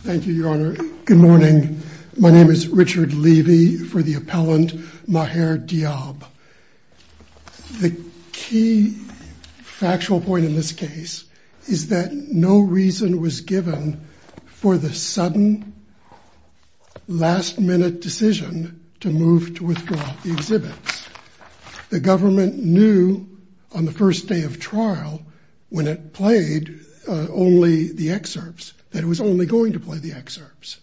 Thank you, Your Honor. Good morning. My name is Richard Levy for the appellant Maher Diab. The key factual point in this case is that no reason was given for the sudden, last-minute decision to move to withdraw the exhibits. The government knew on the first day of trial, when it played only the excerpts, that it was only going to play the excerpts.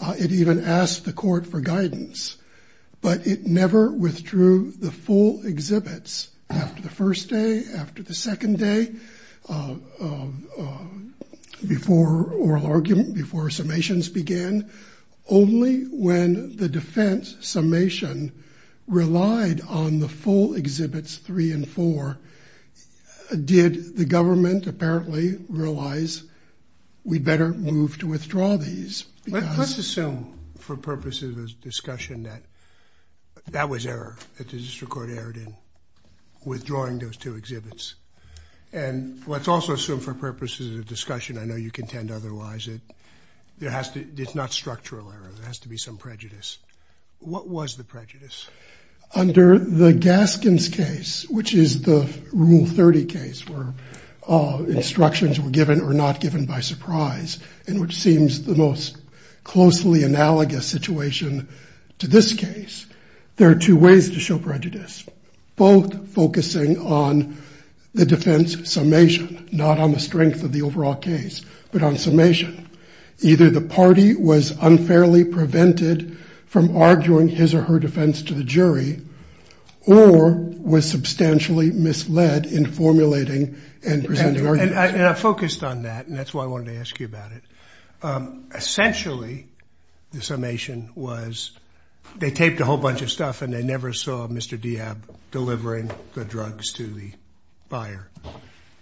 It even asked the court for guidance, but it never withdrew the full exhibits after the first day, after the second day, before oral argument, before summations began. Only when the defense summation relied on the full exhibits three and four, did the government apparently realize we'd better move to withdraw these. Let's assume, for purposes of discussion, that that was error, that the district court erred in withdrawing those two exhibits. And let's also assume, for purposes of discussion, I know you contend otherwise, that it's not structural error. There has to be some prejudice. What was the prejudice? Under the Gaskins case, which is the Rule 30 case, where instructions were given or not given by surprise, and which seems the most closely analogous situation to this case, there are two ways to show prejudice, both focusing on the defense summation, not on the strength of the overall case, but on summation. Either the party was unfairly prevented from arguing his or her defense to the jury, or was substantially misled in formulating and presenting arguments. And I focused on that, and that's why I wanted to ask you about it. Essentially, the summation was they taped a whole bunch of stuff, and they never saw Mr. Diab delivering the drugs to the buyer.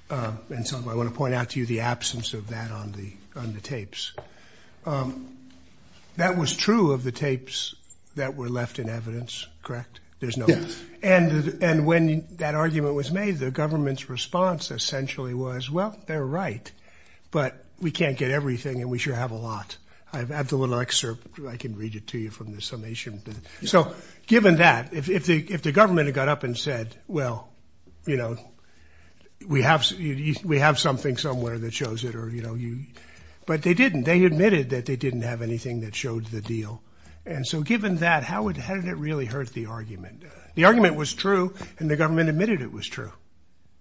And so I want to point out to you the absence of that on the tapes. That was true of the tapes that were left in evidence, correct? Yes. And when that argument was made, the government's response essentially was, well, they're right, but we can't get everything, and we sure have a lot. I have the little excerpt. I can read it to you from the summation. So given that, if the government had got up and said, well, you know, we have something somewhere that shows it, or, you know, but they didn't. They admitted that they didn't have anything that showed the deal. And so given that, how did it really hurt the argument? The argument was true, and the government admitted it was true.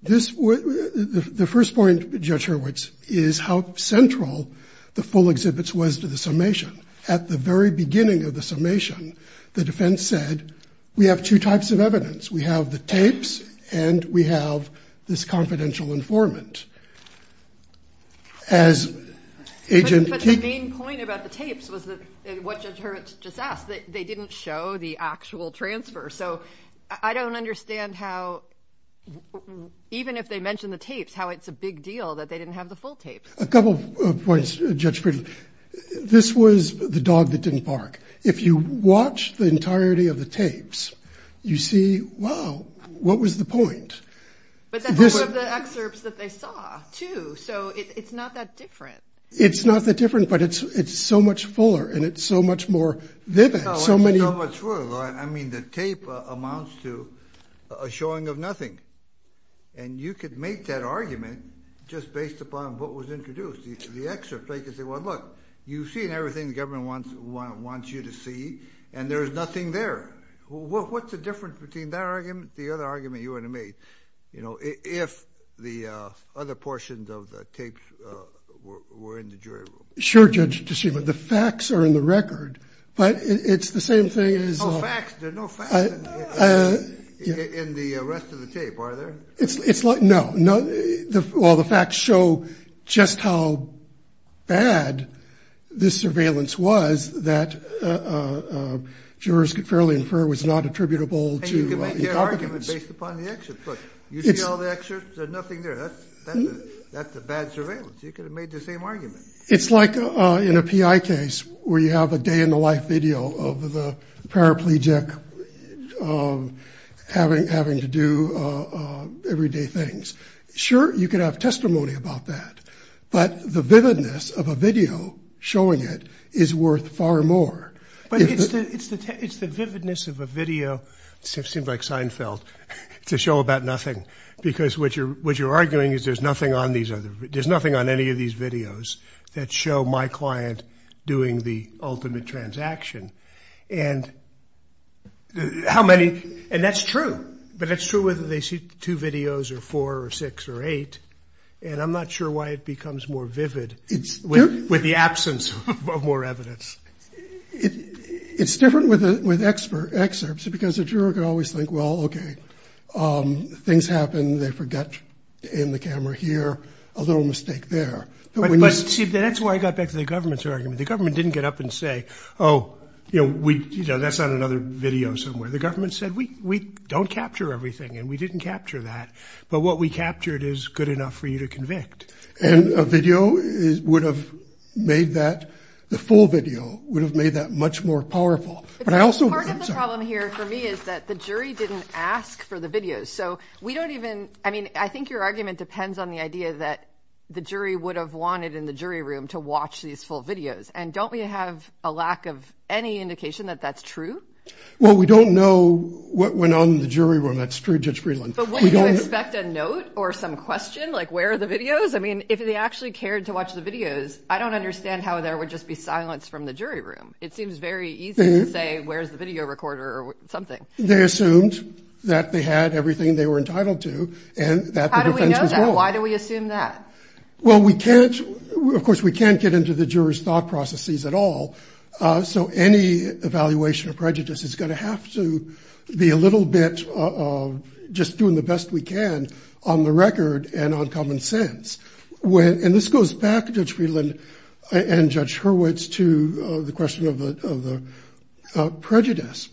The first point, Judge Hurwitz, is how central the full exhibits was to the summation. At the very beginning of the summation, the defense said, we have two types of evidence. We have the tapes, and we have this confidential informant. But the main point about the tapes was what Judge Hurwitz just asked. They didn't show the actual transfer. So I don't understand how, even if they mention the tapes, how it's a big deal that they didn't have the full tapes. A couple of points, Judge Friedland. This was the dog that didn't bark. If you watch the entirety of the tapes, you see, wow, what was the point? But that's one of the excerpts that they saw, too, so it's not that different. It's not that different, but it's so much fuller, and it's so much more vivid. I mean, the tape amounts to a showing of nothing, and you could make that argument just based upon what was introduced. The excerpt, they could say, well, look, you've seen everything the government wants you to see, and there's nothing there. What's the difference between that argument and the other argument you would have made if the other portions of the tapes were in the jury room? Sure, Judge Toshiba. The facts are in the record, but it's the same thing as... Oh, facts? There are no facts in the rest of the tape, are there? No. Well, the facts show just how bad this surveillance was that jurors could fairly infer was not attributable to incompetence. And you can make that argument based upon the excerpt. Look, you see all the excerpts, there's nothing there. That's a bad surveillance. You could have made the same argument. It's like in a PI case where you have a day-in-the-life video of the paraplegic having to do everyday things. Sure, you could have testimony about that, but the vividness of a video showing it is worth far more. But it's the vividness of a video, it seems like Seinfeld, to show about nothing, because what you're arguing is there's nothing on any of these videos that show my client doing the ultimate transaction. And that's true. But it's true whether they see two videos or four or six or eight, and I'm not sure why it becomes more vivid with the absence of more evidence. It's different with excerpts because a juror could always think, well, okay, things happen, they forget to aim the camera here, a little mistake there. But see, that's why I got back to the government's argument. The government didn't get up and say, oh, that's on another video somewhere. The government said, we don't capture everything, and we didn't capture that. But what we captured is good enough for you to convict. And a video would have made that, the full video would have made that much more powerful. But part of the problem here for me is that the jury didn't ask for the videos. So we don't even, I mean, I think your argument depends on the idea that the jury would have wanted in the jury room to watch these full videos. And don't we have a lack of any indication that that's true? Well, we don't know what went on in the jury room. That's true, Judge Friedland. But would you expect a note or some question, like where are the videos? I mean, if they actually cared to watch the videos, I don't understand how there would just be silence from the jury room. It seems very easy to say where's the video recorder or something. They assumed that they had everything they were entitled to and that the defense was wrong. How do we know that? Why do we assume that? Well, we can't, of course we can't get into the jurors' thought processes at all. So any evaluation of prejudice is going to have to be a little bit of just doing the best we can on the record and on common sense. And this goes back, Judge Friedland and Judge Hurwitz, to the question of the prejudice.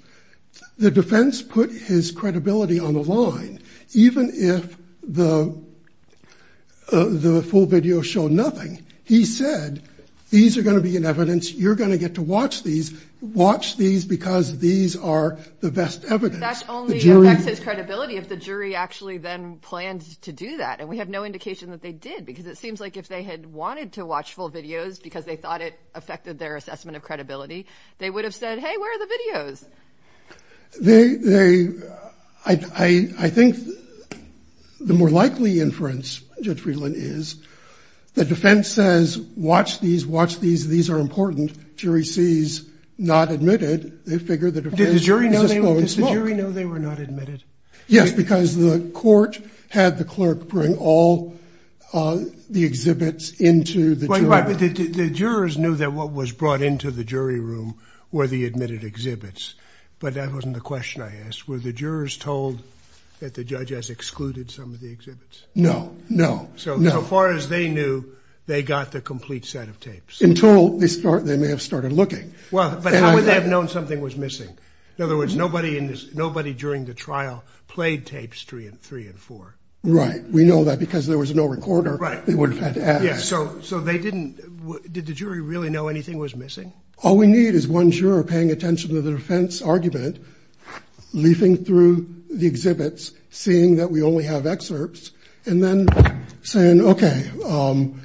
The defense put his credibility on the line. Even if the full video showed nothing, he said these are going to be in evidence. You're going to get to watch these. Watch these because these are the best evidence. That only affects his credibility if the jury actually then planned to do that. And we have no indication that they did because it seems like if they had wanted to watch full videos because they thought it affected their assessment of credibility, they would have said, hey, where are the videos? I think the more likely inference, Judge Friedland, is the defense says watch these, watch these, these are important. Jury sees not admitted. They figure the defense is just going to smoke. Did the jury know they were not admitted? Yes, because the court had the clerk bring all the exhibits into the jury room. The jurors knew that what was brought into the jury room were the admitted exhibits. But that wasn't the question I asked. Were the jurors told that the judge has excluded some of the exhibits? No, no. So far as they knew, they got the complete set of tapes. In total, they may have started looking. But how would they have known something was missing? In other words, nobody during the trial played tapes three and four. Right. We know that because there was no recorder. Right. They would have had to ask. So they didn't, did the jury really know anything was missing? All we need is one juror paying attention to the defense argument, leafing through the exhibits, seeing that we only have excerpts, and then saying, okay,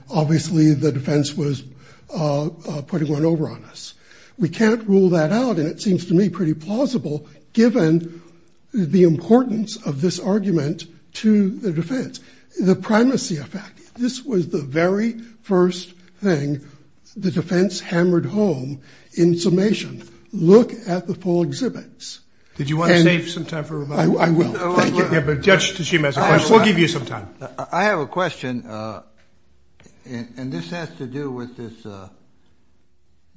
obviously the defense was putting one over on us. We can't rule that out, and it seems to me pretty plausible, given the importance of this argument to the defense. The primacy effect. This was the very first thing the defense hammered home in summation. Look at the full exhibits. Did you want to save some time for remarks? I will. Thank you. Judge Tashima has a question. We'll give you some time. I have a question. And this has to do with this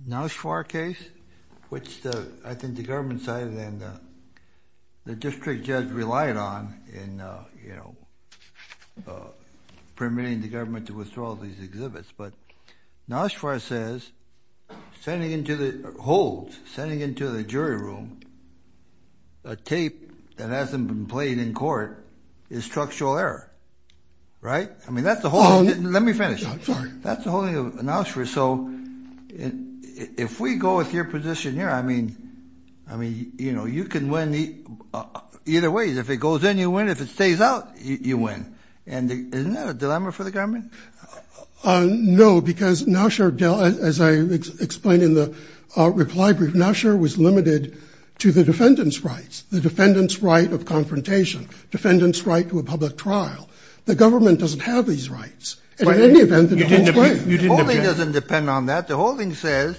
Noshvar case, which I think the government cited and the district judge relied on in permitting the government to withdraw these exhibits. But Noshvar says, holds, sending into the jury room a tape that hasn't been played in court is structural error. Right? I mean, that's the whole thing. Let me finish. I'm sorry. That's the whole thing of Noshvar. So if we go with your position here, I mean, you can win either way. If it goes in, you win. If it stays out, you win. Isn't that a dilemma for the government? No, because Noshvar, as I explained in the reply brief, Noshvar was limited to the defendant's rights, the defendant's right of confrontation, defendant's right to a public trial. The government doesn't have these rights. And in any event, the whole thing. The whole thing doesn't depend on that. The whole thing says,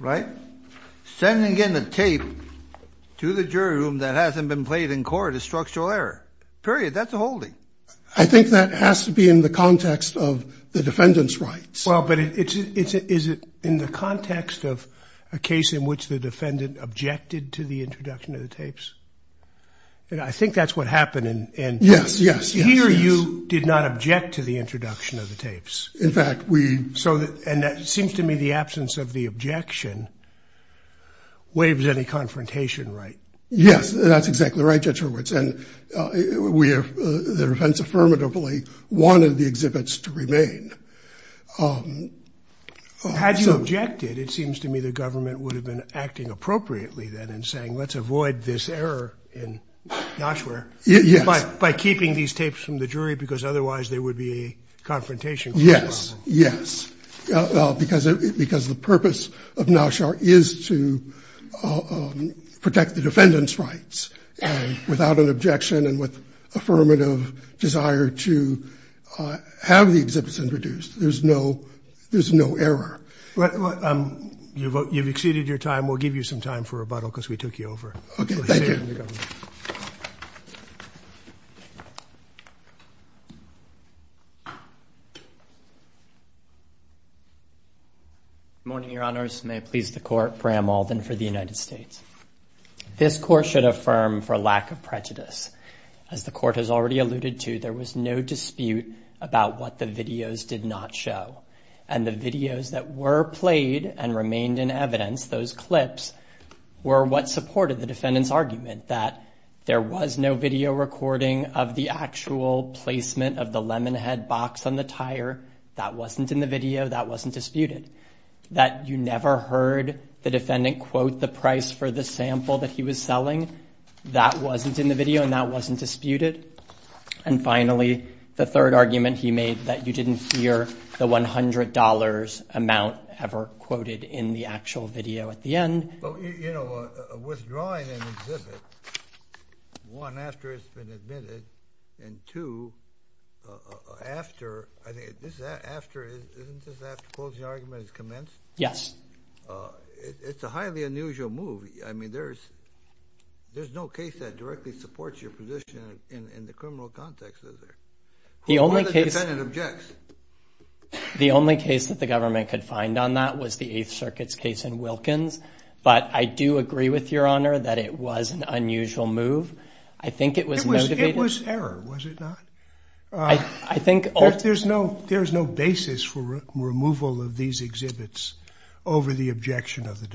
right, sending in a tape to the jury room that hasn't been played in court is structural error. Period. That's the whole thing. I think that has to be in the context of the defendant's rights. Well, but is it in the context of a case in which the defendant objected to the introduction of the tapes? I think that's what happened. Yes, yes. Here you did not object to the introduction of the tapes. In fact, we. And it seems to me the absence of the objection waives any confrontation right. Yes, that's exactly right, Judge Hurwitz. And the defense affirmatively wanted the exhibits to remain. Had you objected, it seems to me the government would have been acting appropriately then and saying, let's avoid this error in Joshua. Yes. By keeping these tapes from the jury, because otherwise there would be a confrontation. Yes. Yes. Because because the purpose of now sure is to protect the defendant's rights without an objection and with affirmative desire to have the exhibits introduced. There's no there's no error. You've exceeded your time. We'll give you some time for rebuttal because we took you over. Morning, Your Honors. May it please the court. Bram Alden for the United States. This court should affirm for lack of prejudice. As the court has already alluded to, there was no dispute about what the videos did not show. And the videos that were played and remained in evidence, those clips, were what supported the defendant's argument that there was no video recording of the actual placement of the Lemonhead box on the tire. That wasn't in the video. That wasn't disputed. That you never heard the defendant quote the price for the sample that he was selling. That wasn't in the video and that wasn't disputed. And finally, the third argument he made that you didn't hear the $100 amount ever quoted in the actual video at the end. Withdrawing an exhibit, one, after it's been admitted, and two, after, isn't this after the closing argument has commenced? Yes. It's a highly unusual move. There's no case that directly supports your position in the criminal context, is there? Who are the defendant objects? The only case that the government could find on that was the Eighth Circuit's case in Wilkins. But I do agree with Your Honor that it was an unusual move. I think it was motivated. It was error, was it not? There's no basis for removal of these exhibits over the objection of the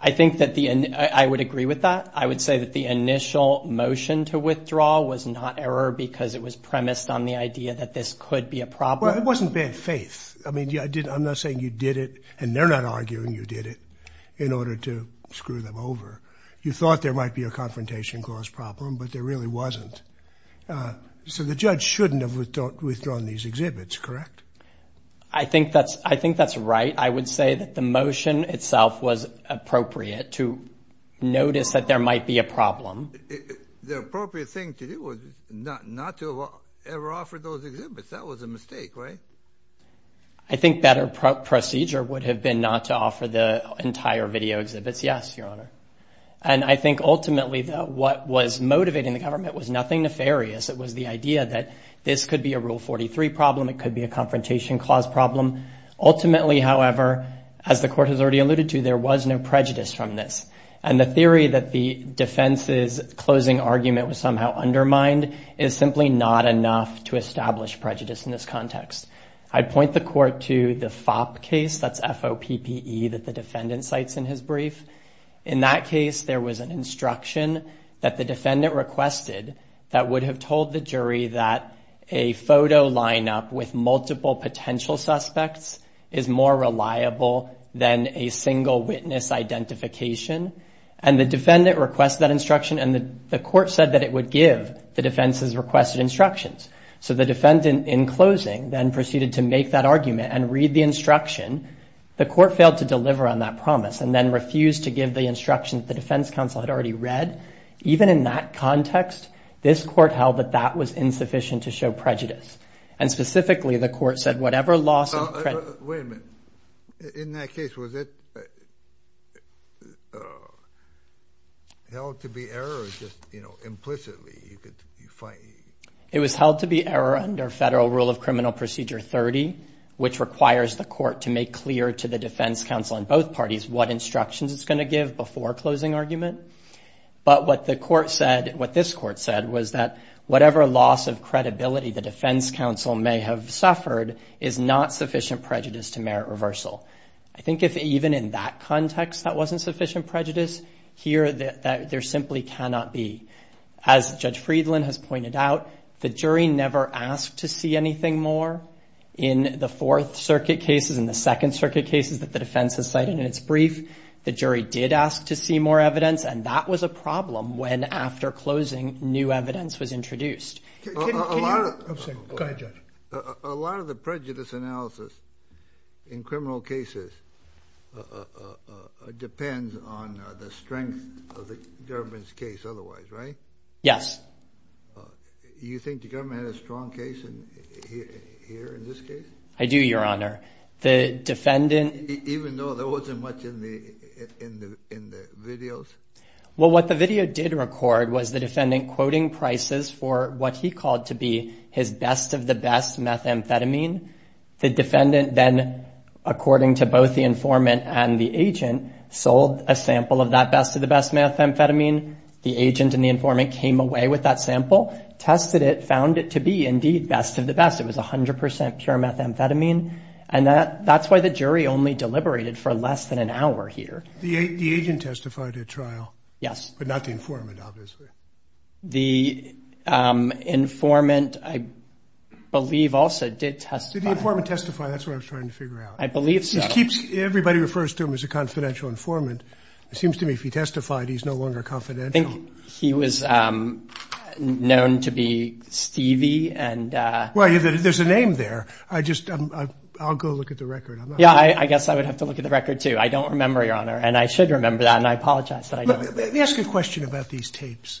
I would agree with that. I would say that the initial motion to withdraw was not error because it was premised on the idea that this could be a problem. Well, it wasn't bad faith. I mean, I'm not saying you did it, and they're not arguing you did it, in order to screw them over. You thought there might be a confrontation clause problem, but there really wasn't. So the judge shouldn't have withdrawn these exhibits, correct? I think that's right. I would say that the motion itself was appropriate to notice that there might be a problem. The appropriate thing to do was not to ever offer those exhibits. That was a mistake, right? I think a better procedure would have been not to offer the entire video exhibits, yes, Your Honor. And I think ultimately what was motivating the government was nothing nefarious. It was the idea that this could be a Rule 43 problem, it could be a confrontation clause problem. Ultimately, however, as the Court has already alluded to, there was no prejudice from this. And the theory that the defense's closing argument was somehow undermined is simply not enough to establish prejudice in this context. I'd point the Court to the FOP case, that's F-O-P-P-E, that the defendant cites in his brief. In that case, there was an instruction that the defendant requested that would have told the jury that a photo lineup with multiple potential suspects is more reliable than a single witness identification. And the defendant requested that instruction, and the Court said that it would give the defense's requested instructions. So the defendant, in closing, then proceeded to make that argument and read the instruction. The Court failed to deliver on that promise and then refused to give the instruction that the defense counsel had already read. Even in that context, this Court held that that was insufficient to show prejudice. And specifically, the Court said whatever loss of credibility. Wait a minute. In that case, was it held to be error or just, you know, implicitly? It was held to be error under Federal Rule of Criminal Procedure 30, which requires the Court to make clear to the defense counsel in both parties what instructions it's going to give before closing argument. But what the Court said, what this Court said, was that whatever loss of credibility the defense counsel may have suffered is not sufficient prejudice to merit reversal. I think if even in that context that wasn't sufficient prejudice, here there simply cannot be. As Judge Friedland has pointed out, the jury never asked to see anything more in the Fourth Circuit cases, in the Second Circuit cases that the defense has cited in its brief. The jury did ask to see more evidence, and that was a problem when after closing new evidence was introduced. A lot of the prejudice analysis in criminal cases depends on the strength of the government's case otherwise, right? Yes. You think the government had a strong case here in this case? I do, Your Honor. Even though there wasn't much in the videos? And that's why the jury only deliberated for less than an hour here. The agent testified at trial? Yes. But not the informant, obviously. The informant, I believe, also did testify. Did the informant testify? That's what I was trying to figure out. I believe so. He keeps – everybody refers to him as a confidential informant. It seems to me if he testified, he's no longer confidential. I think he was known to be Stevie and – Well, there's a name there. I'll go look at the record. Yeah, I guess I would have to look at the record, too. I don't remember, Your Honor. And I should remember that, and I apologize that I don't. Let me ask you a question about these tapes.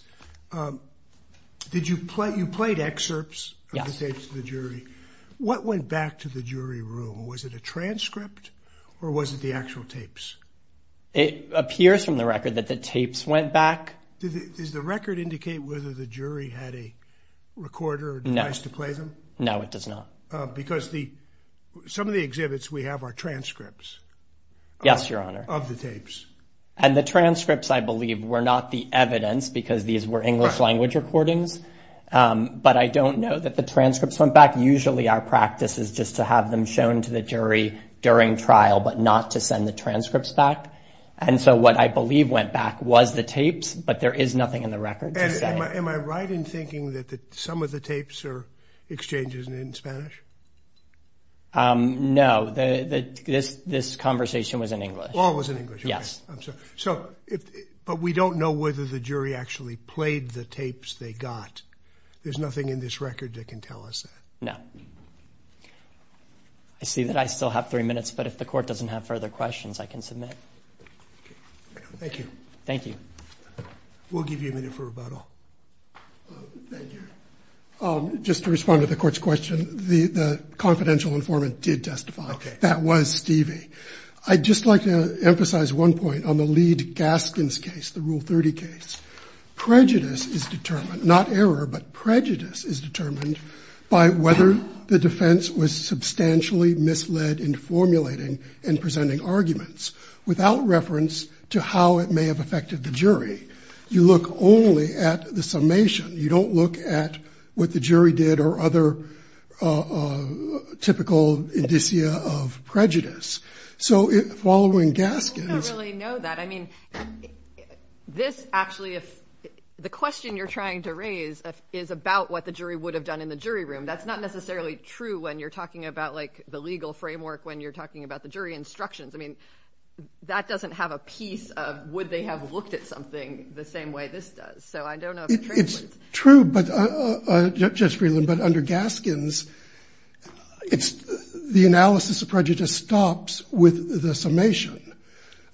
You played excerpts of the tapes to the jury. What went back to the jury room? Was it a transcript, or was it the actual tapes? It appears from the record that the tapes went back. Does the record indicate whether the jury had a recorder or device to play them? No, it does not. Because some of the exhibits we have are transcripts. Yes, Your Honor. Of the tapes. And the transcripts, I believe, were not the evidence because these were English language recordings. But I don't know that the transcripts went back. Usually our practice is just to have them shown to the jury during trial but not to send the transcripts back. And so what I believe went back was the tapes, but there is nothing in the record to say. Am I right in thinking that some of the tapes are exchanges in Spanish? No, this conversation was in English. Oh, it was in English. Yes. I'm sorry. But we don't know whether the jury actually played the tapes they got. There's nothing in this record that can tell us that. No. I see that I still have three minutes, but if the court doesn't have further questions, I can submit. Thank you. Thank you. We'll give you a minute for rebuttal. Thank you. Just to respond to the court's question, the confidential informant did testify. Okay. That was Stevie. I'd just like to emphasize one point on the Leed-Gaskins case, the Rule 30 case. Prejudice is determined, not error, but prejudice is determined by whether the defense was substantially misled in formulating and presenting arguments without reference to how it may have affected the jury. You look only at the summation. You don't look at what the jury did or other typical indicia of prejudice. So following Gaskins. I don't really know that. I mean, this actually is the question you're trying to raise is about what the jury would have done in the jury room. That's not necessarily true when you're talking about, like, the legal framework when you're talking about the jury instructions. I mean, that doesn't have a piece of would they have looked at something the same way this does. So I don't know if it translates. It's true, Judge Freeland, but under Gaskins, the analysis of prejudice stops with the summation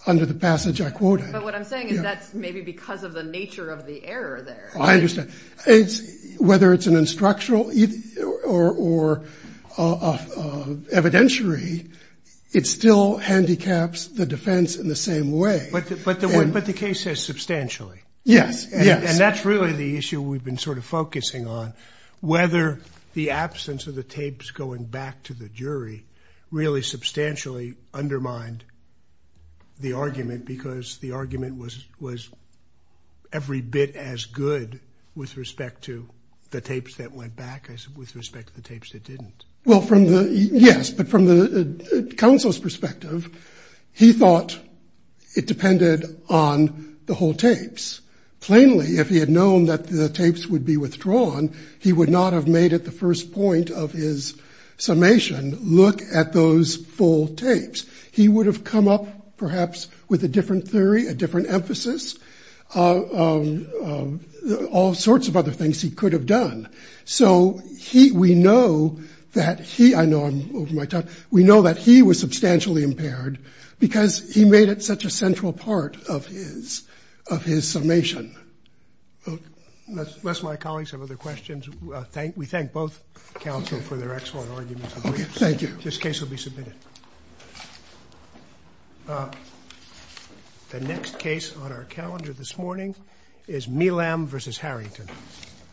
under the passage I quoted. But what I'm saying is that's maybe because of the nature of the error there. I understand. Whether it's an instructional or evidentiary, it still handicaps the defense in the same way. But the case says substantially. Yes. And that's really the issue we've been sort of focusing on, whether the absence of the tapes going back to the jury really substantially undermined the argument because the argument was every bit as good with respect to the tapes that went back as with respect to the tapes that didn't. Well, yes, but from the counsel's perspective, he thought it depended on the whole tapes plainly. If he had known that the tapes would be withdrawn, he would not have made it the first point of his summation. Look at those full tapes. He would have come up perhaps with a different theory, a different emphasis, all sorts of other things he could have done. So we know that he, I know I'm over my time, we know that he was substantially impaired because he made it such a central part of his summation. Unless my colleagues have other questions, we thank both counsel for their excellent arguments. Okay, thank you. This case will be submitted. The next case on our calendar this morning is Milam v. Harrington.